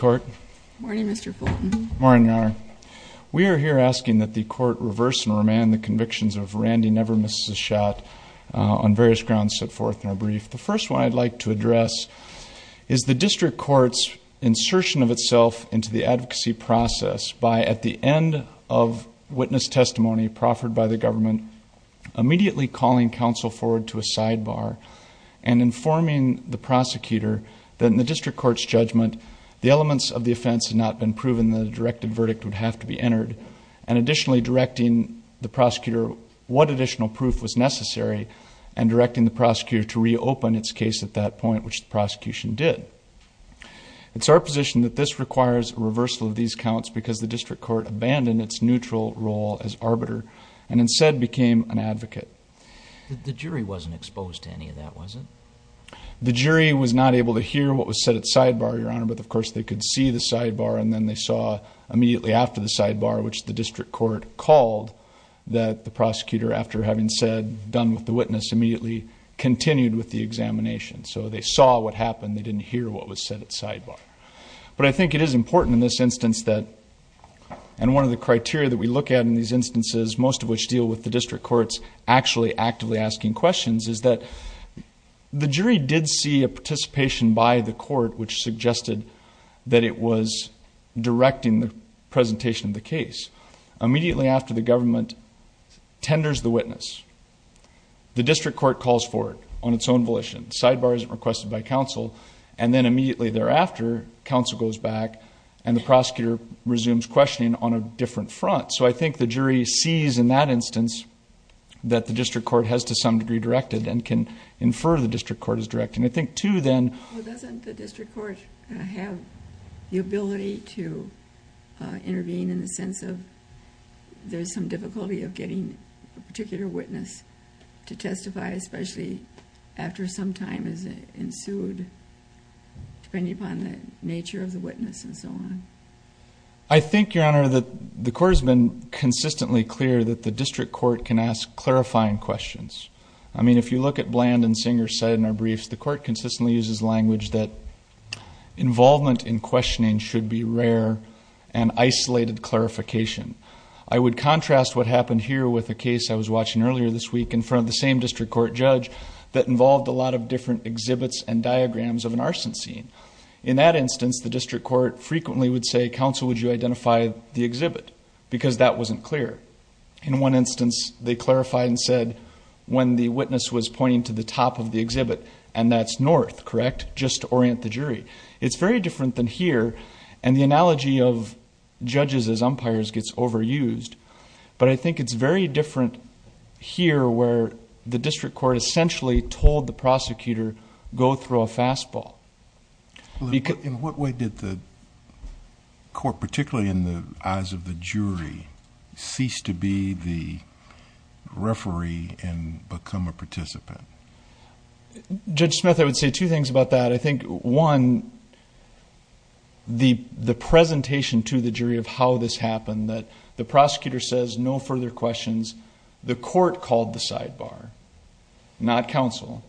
Morning, Mr. Fulton. Morning, Your Honor. We are here asking that the court reverse and remand the convictions of Randy Never Misses A Shot on various grounds set forth in our brief. The first one I'd like to address is the district court's insertion of itself into the advocacy process by, at the end of witness testimony proffered by the government, immediately calling counsel forward to a sidebar and informing the prosecutor that in the district court's judgment the elements of the offense had not been proven and the directive verdict would have to be entered, and additionally directing the prosecutor what additional proof was necessary and directing the prosecutor to reopen its case at that point, which the prosecution did. It's our position that this requires a reversal of these counts because the district court abandoned its neutral role as arbiter and instead became an advocate. The jury wasn't exposed to any of that, was it? The jury was not able to hear what was said at sidebar, Your Honor, but, of course, they could see the sidebar and then they saw immediately after the sidebar, which the district court called that the prosecutor, after having said done with the witness, immediately continued with the examination. So they saw what happened. They didn't hear what was said at sidebar. But I think it is important in this instance that, and one of the criteria that we look at in these instances, most of which deal with the district court's actually actively asking questions, is that the jury did see a participation by the court, which suggested that it was directing the presentation of the case. Immediately after the government tenders the witness, the district court calls for it on its own volition. Sidebar isn't requested by counsel, and then immediately thereafter, counsel goes back and the prosecutor resumes questioning on a different front. So I think the jury sees in that instance that the district court has to some degree directed and can infer the district court is directing. I think, too, then. Well, doesn't the district court have the ability to intervene in the sense of there's some difficulty of getting a particular witness to testify, especially after some time has ensued, depending upon the nature of the witness and so on? I think, Your Honor, that the court has been consistently clear that the district court can ask clarifying questions. I mean, if you look at Bland and Singer said in their briefs, the court consistently uses language that involvement in questioning should be rare and isolated clarification. I would contrast what happened here with a case I was watching earlier this week in front of the same district court judge that involved a lot of different exhibits and diagrams of an arson scene. In that instance, the district court frequently would say, counsel, would you identify the exhibit because that wasn't clear. In one instance, they clarified and said when the witness was pointing to the top of the exhibit and that's north, correct, just to orient the jury. It's very different than here, and the analogy of judges as umpires gets overused, but I think it's very different here where the district court essentially told the prosecutor go throw a fastball. In what way did the court, particularly in the eyes of the jury, cease to be the referee and become a participant? Judge Smith, I would say two things about that. I think, one, the presentation to the jury of how this happened, that the prosecutor says no further questions, the court called the sidebar, not counsel,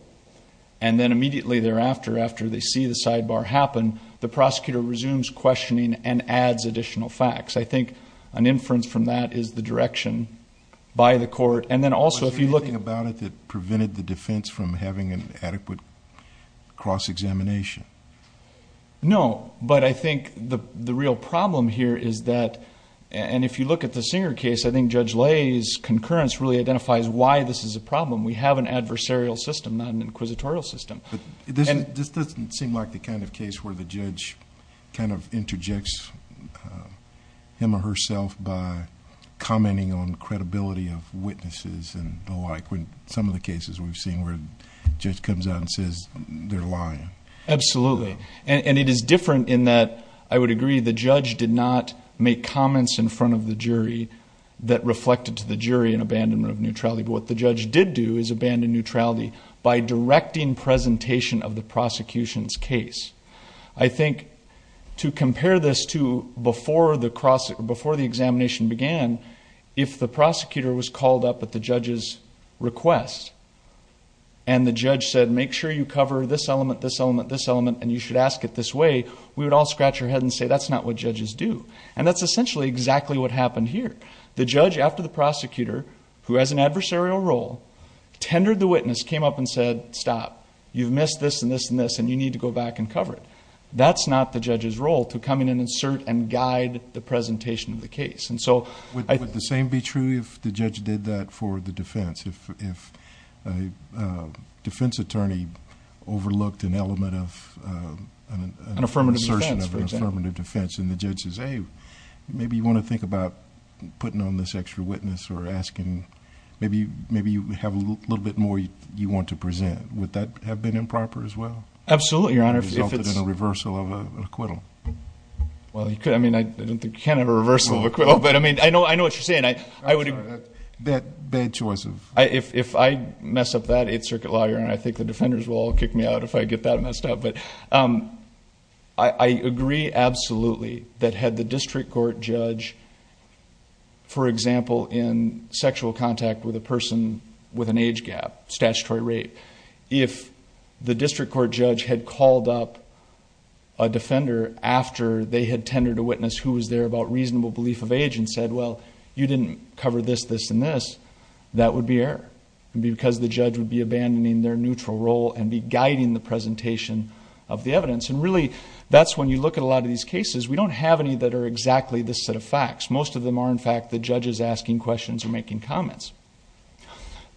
and then immediately thereafter, after they see the sidebar happen, the prosecutor resumes questioning and adds additional facts. I think an inference from that is the direction by the court, and then also if you look... Was there anything about it that prevented the defense from having an adequate cross-examination? No, but I think the real problem here is that, and if you look at the Singer case, I think Judge Lay's concurrence really identifies why this is a problem. We have an adversarial system, not an inquisitorial system. This doesn't seem like the kind of case where the judge kind of interjects him or herself by commenting on credibility of witnesses and the like, when some of the cases we've seen where a judge comes out and says they're lying. Absolutely, and it is different in that, I would agree, the judge did not make comments in front of the jury that reflected to the jury an abandonment of neutrality. What the judge did do is abandon neutrality by directing presentation of the prosecution's case. I think to compare this to before the examination began, if the prosecutor was called up at the judge's request and the judge said, make sure you cover this element, this element, this element, and you should ask it this way, we would all scratch our head and say that's not what judges do. And that's essentially exactly what happened here. The judge, after the prosecutor, who has an adversarial role, tendered the witness, came up and said, stop, you've missed this and this and this, and you need to go back and cover it. That's not the judge's role to come in and insert and guide the presentation of the case. Would the same be true if the judge did that for the defense? If a defense attorney overlooked an element of an assertion of an affirmative defense and the judge says, hey, maybe you want to think about putting on this extra witness or asking maybe you have a little bit more you want to present, would that have been improper as well? Absolutely, Your Honor. If it resulted in a reversal of an acquittal. Well, you could. I mean, I don't think you can have a reversal of an acquittal. But I mean, I know what you're saying. I would agree. That bad choice of... If I mess up that, it's circuit lawyer, and I think the defenders will all kick me out if I get that messed up. I agree absolutely that had the district court judge, for example, in sexual contact with a person with an age gap, statutory rape, if the district court judge had called up a defender after they had tendered a witness who was there about reasonable belief of age and said, well, you didn't cover this, this, and this, that would be error. It would be because the judge would be abandoning their neutral role and be guiding the presentation of the evidence. And really, that's when you look at a lot of these cases. We don't have any that are exactly this set of facts. Most of them are, in fact, the judges asking questions or making comments.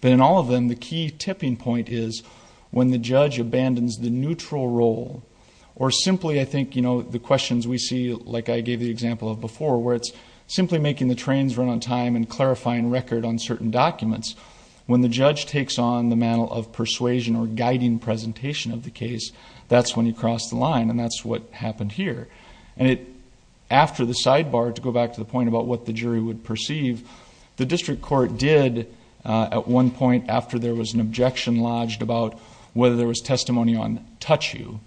But in all of them, the key tipping point is when the judge abandons the neutral role or simply, I think, the questions we see, like I gave the example of before, where it's simply making the trains run on time and clarifying record on certain documents. When the judge takes on the mantle of persuasion or guiding presentation of the case, that's when you cross the line, and that's what happened here. And after the sidebar, to go back to the point about what the jury would perceive, the district court did, at one point, after there was an objection lodged about whether there was testimony on touch you,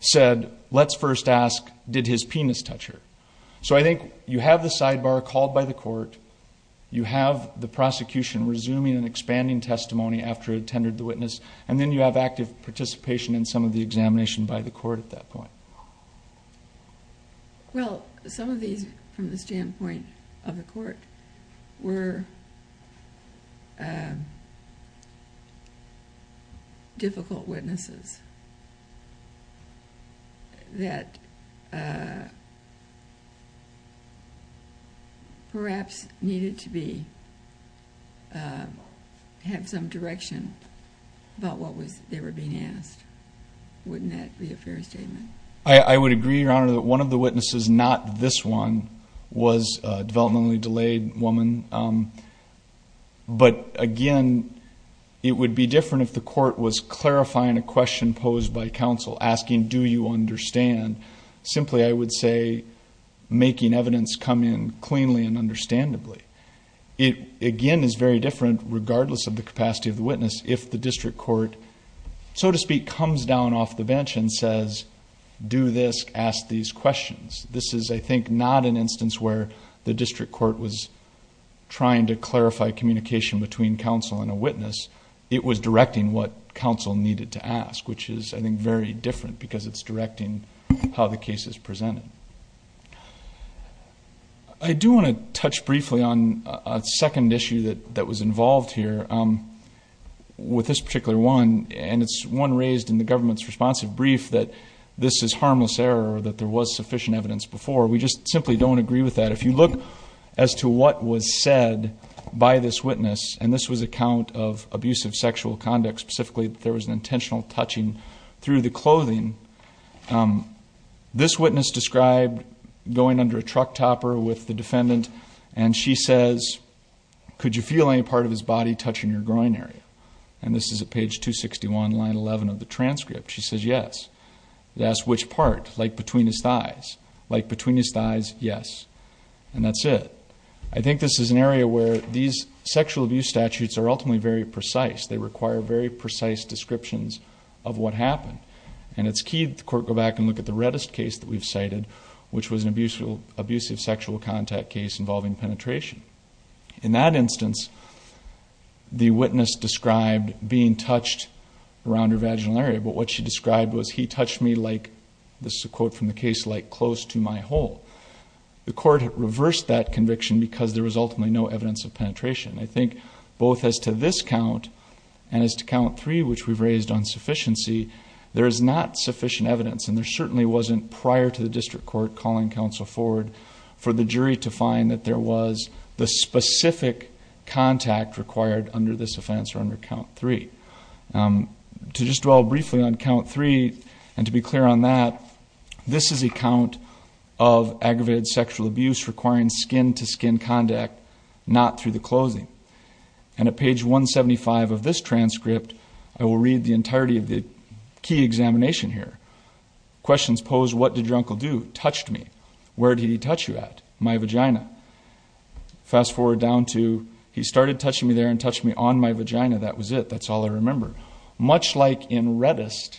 said, let's first ask, did his penis touch her? So I think you have the sidebar called by the court. You have the prosecution resuming and expanding testimony after it attended the witness, and then you have active participation in some of the examination by the court at that point. Well, some of these, from the standpoint of the court, were difficult witnesses that perhaps needed to have some direction about what they were being asked. Wouldn't that be a fair statement? I would agree, Your Honor, that one of the witnesses, not this one, was a developmentally delayed woman. But, again, it would be different if the court was clarifying a question posed by counsel, asking, do you understand? Simply, I would say, making evidence come in cleanly and understandably. It, again, is very different, regardless of the capacity of the witness, if the district court, so to speak, comes down off the bench and says, do this, ask these questions. This is, I think, not an instance where the district court was trying to clarify communication between counsel and a witness. It was directing what counsel needed to ask, which is, I think, very different because it's directing how the case is presented. I do want to touch briefly on a second issue that was involved here with this particular one, and it's one raised in the government's responsive brief that this is harmless error that there was sufficient evidence before. We just simply don't agree with that. If you look as to what was said by this witness, and this was a count of abusive sexual conduct, specifically that there was an intentional touching through the clothing, this witness described going under a truck topper with the defendant, and she says, could you feel any part of his body touching your groin area? And this is at page 261, line 11 of the transcript. She says yes. It asks which part, like between his thighs. Like between his thighs, yes. And that's it. I think this is an area where these sexual abuse statutes are ultimately very precise. They require very precise descriptions of what happened. And it's key that the court go back and look at the reddest case that we've cited, which was an abusive sexual contact case involving penetration. In that instance, the witness described being touched around her vaginal area, but what she described was he touched me like, this is a quote from the case, like close to my hole. The court reversed that conviction because there was ultimately no evidence of penetration. I think both as to this count and as to count three, which we've raised on sufficiency, there is not sufficient evidence, and there certainly wasn't prior to the district court calling counsel forward for the jury to find that there was the specific contact required under this offense or under count three. To just dwell briefly on count three and to be clear on that, this is a count of aggravated sexual abuse requiring skin-to-skin contact, not through the closing. And at page 175 of this transcript, I will read the entirety of the key examination here. Questions posed, what did your uncle do? Touched me. Where did he touch you at? My vagina. Fast forward down to, he started touching me there and touched me on my vagina. That was it. That's all I remember. Much like in Redist,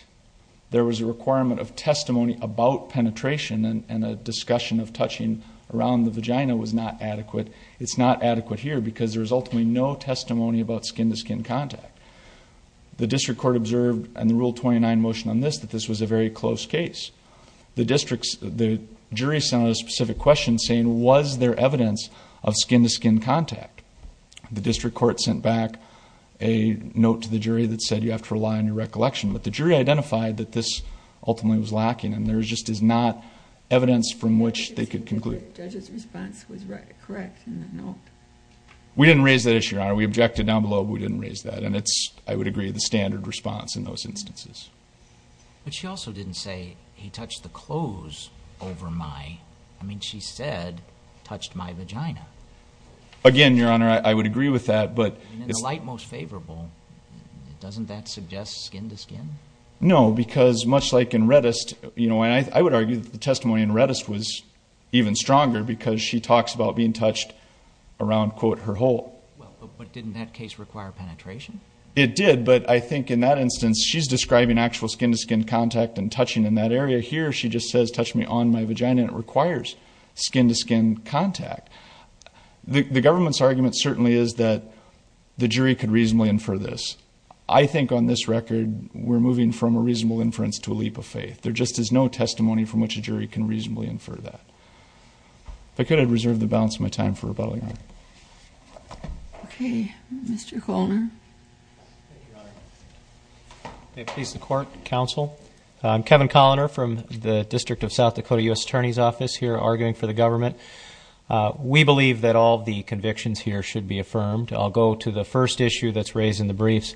there was a requirement of testimony about penetration and a discussion of touching around the vagina was not adequate. It's not adequate here because there was ultimately no testimony about skin-to-skin contact. The district court observed in the Rule 29 motion on this that this was a very close case. The jury sent out a specific question saying, was there evidence of skin-to-skin contact? The district court sent back a note to the jury that said, you have to rely on your recollection. But the jury identified that this ultimately was lacking and there just is not evidence from which they could conclude. The judge's response was correct in that note. We didn't raise that issue, Your Honor. We objected down below, but we didn't raise that. And it's, I would agree, the standard response in those instances. But she also didn't say, he touched the clothes over my, I mean, she said, touched my vagina. Again, Your Honor, I would agree with that. In the light most favorable, doesn't that suggest skin-to-skin? No, because much like in Redist, you know, I would argue that the testimony in Redist was even stronger because she talks about being touched around, quote, her hole. But didn't that case require penetration? It did, but I think in that instance, she's describing actual skin-to-skin contact and touching in that area. Here she just says, touch me on my vagina, and it requires skin-to-skin contact. The government's argument certainly is that the jury could reasonably infer this. I think on this record, we're moving from a reasonable inference to a leap of faith. There just is no testimony from which a jury can reasonably infer that. If I could, I'd reserve the balance of my time for rebuttal, Your Honor. Okay. Mr. Coloner. Thank you, Your Honor. Please support counsel. I'm Kevin Coloner from the District of South Dakota U.S. Attorney's Office, here arguing for the government. We believe that all the convictions here should be affirmed. I'll go to the first issue that's raised in the briefs.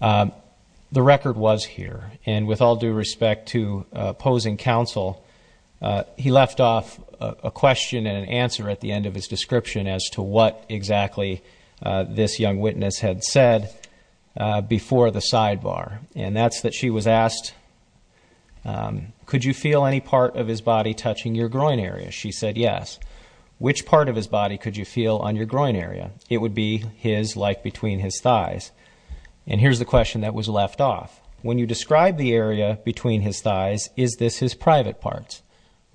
The record was here, and with all due respect to opposing counsel, he left off a question and an answer at the end of his description as to what exactly this young witness had said before the sidebar, and that's that she was asked, could you feel any part of his body touching your groin area? She said yes. Which part of his body could you feel on your groin area? It would be his, like between his thighs. And here's the question that was left off. When you describe the area between his thighs, is this his private parts?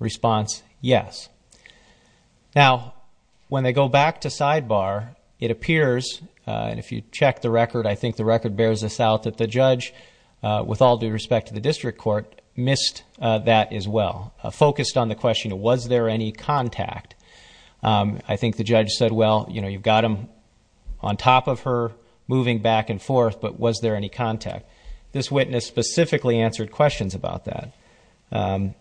Response, yes. Now, when they go back to sidebar, it appears, and if you check the record, I think the record bears this out that the judge, with all due respect to the district court, missed that as well, focused on the question, was there any contact? I think the judge said, well, you know, you've got him on top of her, moving back and forth, but was there any contact? This witness specifically answered questions about that,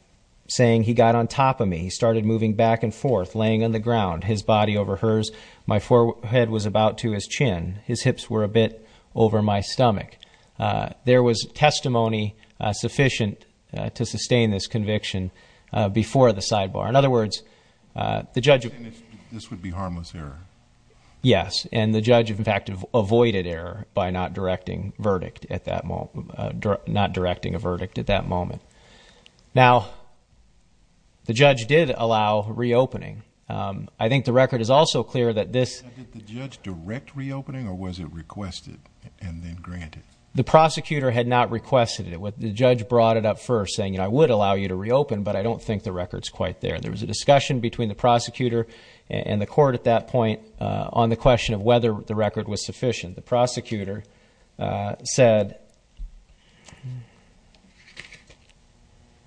saying he got on top of me. He started moving back and forth, laying on the ground, his body over hers. My forehead was about to his chin. His hips were a bit over my stomach. There was testimony sufficient to sustain this conviction before the sidebar. In other words, the judge. This would be harmless error. Yes. And the judge, in fact, avoided error by not directing a verdict at that moment. Now, the judge did allow reopening. I think the record is also clear that this. Did the judge direct reopening, or was it requested and then granted? The prosecutor had not requested it. The judge brought it up first, saying, you know, I would allow you to reopen, but I don't think the record is quite there. There was a discussion between the prosecutor and the court at that point on the question of whether the record was sufficient. The prosecutor said,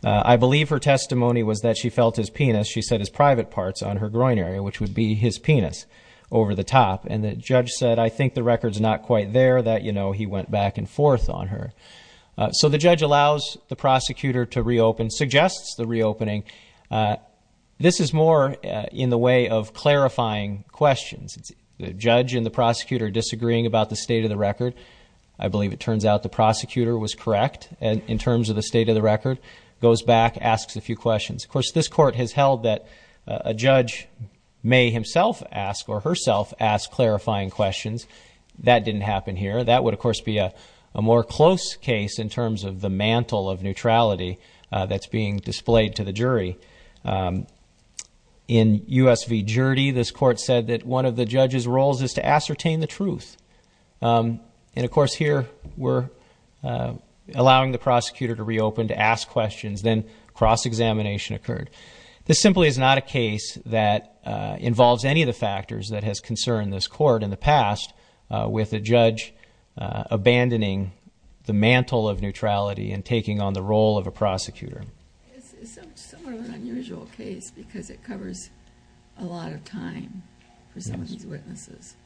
I believe her testimony was that she felt his penis, she said, his private parts on her groin area, which would be his penis over the top. And the judge said, I think the record's not quite there, that, you know, he went back and forth on her. So the judge allows the prosecutor to reopen, suggests the reopening. This is more in the way of clarifying questions. It's the judge and the prosecutor disagreeing about the state of the record. I believe it turns out the prosecutor was correct in terms of the state of the record, goes back, asks a few questions. Of course, this court has held that a judge may himself ask or herself ask clarifying questions. That didn't happen here. That would, of course, be a more close case in terms of the mantle of neutrality that's being displayed to the jury. In U.S. v. Jury, this court said that one of the judge's roles is to ascertain the truth. And, of course, here we're allowing the prosecutor to reopen, to ask questions, then cross-examination occurred. This simply is not a case that involves any of the factors that has concerned this court in the past, with a judge abandoning the mantle of neutrality and taking on the role of a prosecutor. It's somewhat of an unusual case because it covers a lot of time for some of these witnesses.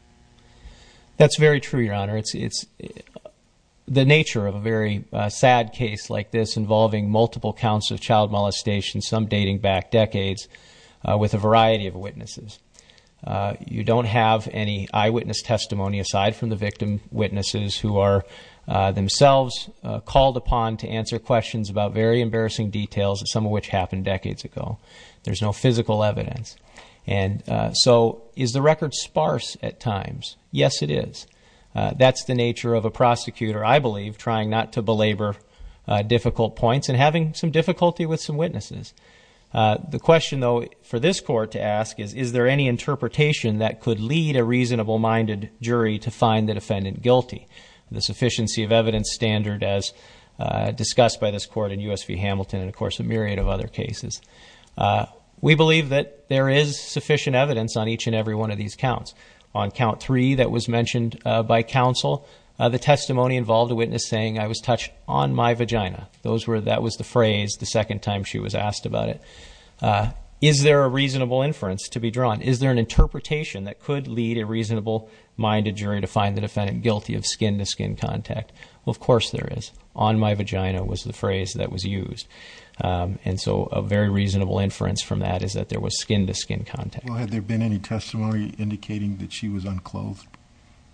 That's very true, Your Honor. It's the nature of a very sad case like this involving multiple counts of child molestation, some dating back decades, with a variety of witnesses. You don't have any eyewitness testimony, aside from the victim witnesses, who are themselves called upon to answer questions about very embarrassing details, some of which happened decades ago. There's no physical evidence. And so is the record sparse at times? Yes, it is. That's the nature of a prosecutor, I believe, trying not to belabor difficult points and having some difficulty with some witnesses. The question, though, for this court to ask is, is there any interpretation that could lead a reasonable-minded jury to find the defendant guilty? The sufficiency of evidence standard as discussed by this court in U.S. v. Hamilton and, of course, a myriad of other cases. We believe that there is sufficient evidence on each and every one of these counts. On count three that was mentioned by counsel, the testimony involved a witness saying, I was touched on my vagina. That was the phrase the second time she was asked about it. Is there a reasonable inference to be drawn? Is there an interpretation that could lead a reasonable-minded jury to find the defendant guilty of skin-to-skin contact? Well, of course there is. On my vagina was the phrase that was used. And so a very reasonable inference from that is that there was skin-to-skin contact. Well, had there been any testimony indicating that she was unclothed?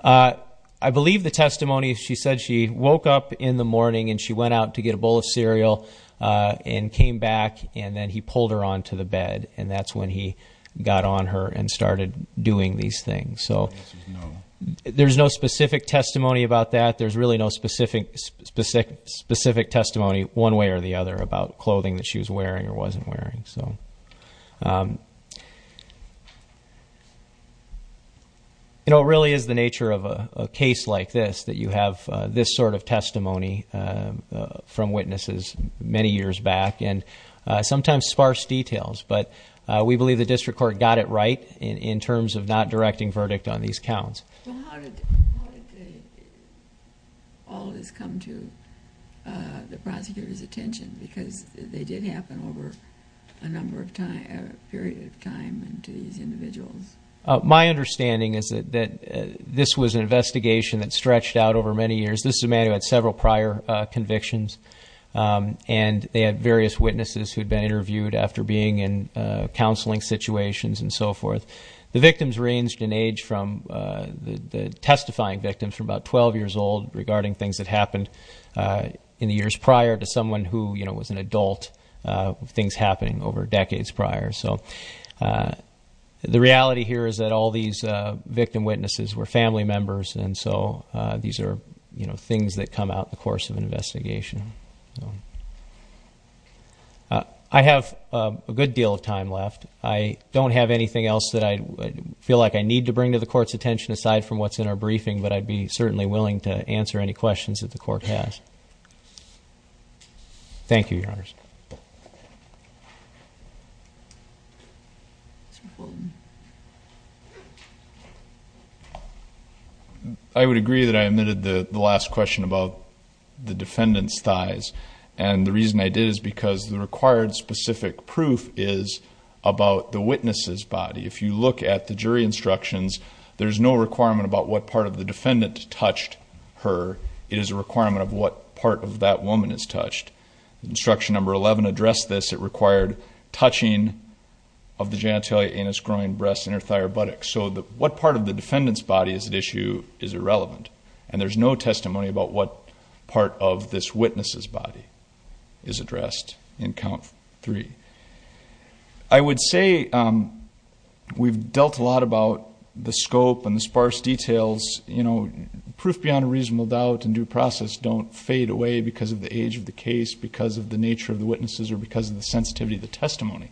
I believe the testimony, she said she woke up in the morning and she went out to get a bowl of cereal and came back, and then he pulled her onto the bed, and that's when he got on her and started doing these things. So there's no specific testimony about that. There's really no specific testimony one way or the other about clothing that she was wearing or wasn't wearing. So, you know, it really is the nature of a case like this, that you have this sort of testimony from witnesses many years back, and sometimes sparse details. But we believe the district court got it right in terms of not directing verdict on these counts. Well, how did all this come to the prosecutor's attention? Because they did happen over a period of time to these individuals. My understanding is that this was an investigation that stretched out over many years. This is a man who had several prior convictions, and they had various witnesses who had been interviewed after being in counseling situations and so forth. The victims ranged in age from the testifying victims from about 12 years old regarding things that happened in the years prior to someone who, you know, was an adult, things happening over decades prior. So the reality here is that all these victim witnesses were family members, and so these are, you know, things that come out in the course of an investigation. I have a good deal of time left. I don't have anything else that I feel like I need to bring to the court's attention aside from what's in our briefing, but I'd be certainly willing to answer any questions that the court has. Thank you, Your Honors. I would agree that I omitted the last question about the defendant's thighs, and the reason I did is because the required specific proof is about the witness's body. If you look at the jury instructions, there's no requirement about what part of the defendant touched her. It is a requirement of what part of that woman is touched. Instruction number 11 addressed this. It required touching of the genitalia, anus, groin, breasts, and her thigh or buttocks. So what part of the defendant's body is at issue is irrelevant, and there's no testimony about what part of this witness's body is addressed in count three. I would say we've dealt a lot about the scope and the sparse details. You know, proof beyond a reasonable doubt and due process don't fade away because of the age of the case, because of the nature of the witnesses, or because of the sensitivity of the testimony.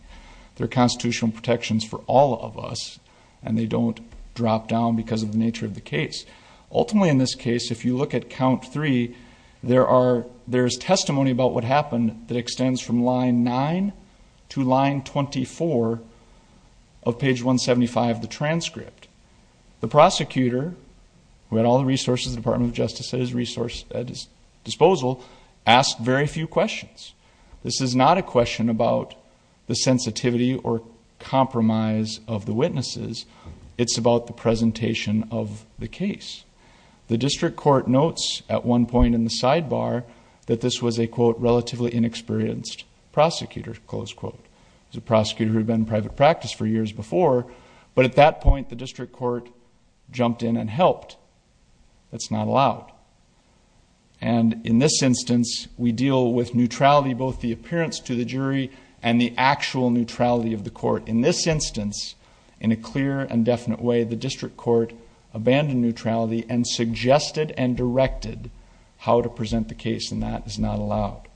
They're constitutional protections for all of us, and they don't drop down because of the nature of the case. Ultimately, in this case, if you look at count three, there's testimony about what happened that extends from line nine to line 24 of page 175 of the transcript. The prosecutor, who had all the resources the Department of Justice had at his disposal, asked very few questions. This is not a question about the sensitivity or compromise of the witnesses. It's about the presentation of the case. The district court notes at one point in the sidebar that this was a, quote, relatively inexperienced prosecutor, close quote. It was a prosecutor who had been in private practice for years before, but at that point the district court jumped in and helped. That's not allowed. And in this instance, we deal with neutrality, both the appearance to the jury and the actual neutrality of the court. In this instance, in a clear and definite way, the district court abandoned neutrality and suggested and directed how to present the case, and that is not allowed.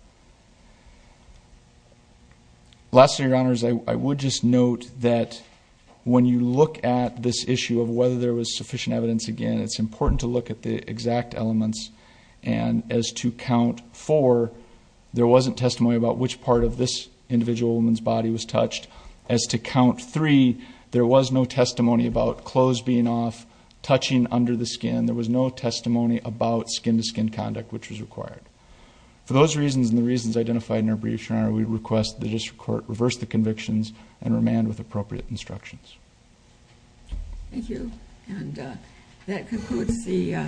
Lastly, Your Honors, I would just note that when you look at this issue of whether there was sufficient evidence, again, it's important to look at the exact elements. And as to count four, there wasn't testimony about which part of this individual woman's body was touched. As to count three, there was no testimony about clothes being off, touching under the skin. There was no testimony about skin-to-skin conduct, which was required. For those reasons and the reasons identified in our brief, Your Honor, we request that the district court reverse the convictions and remand with appropriate instructions. Thank you, and that concludes the hearing.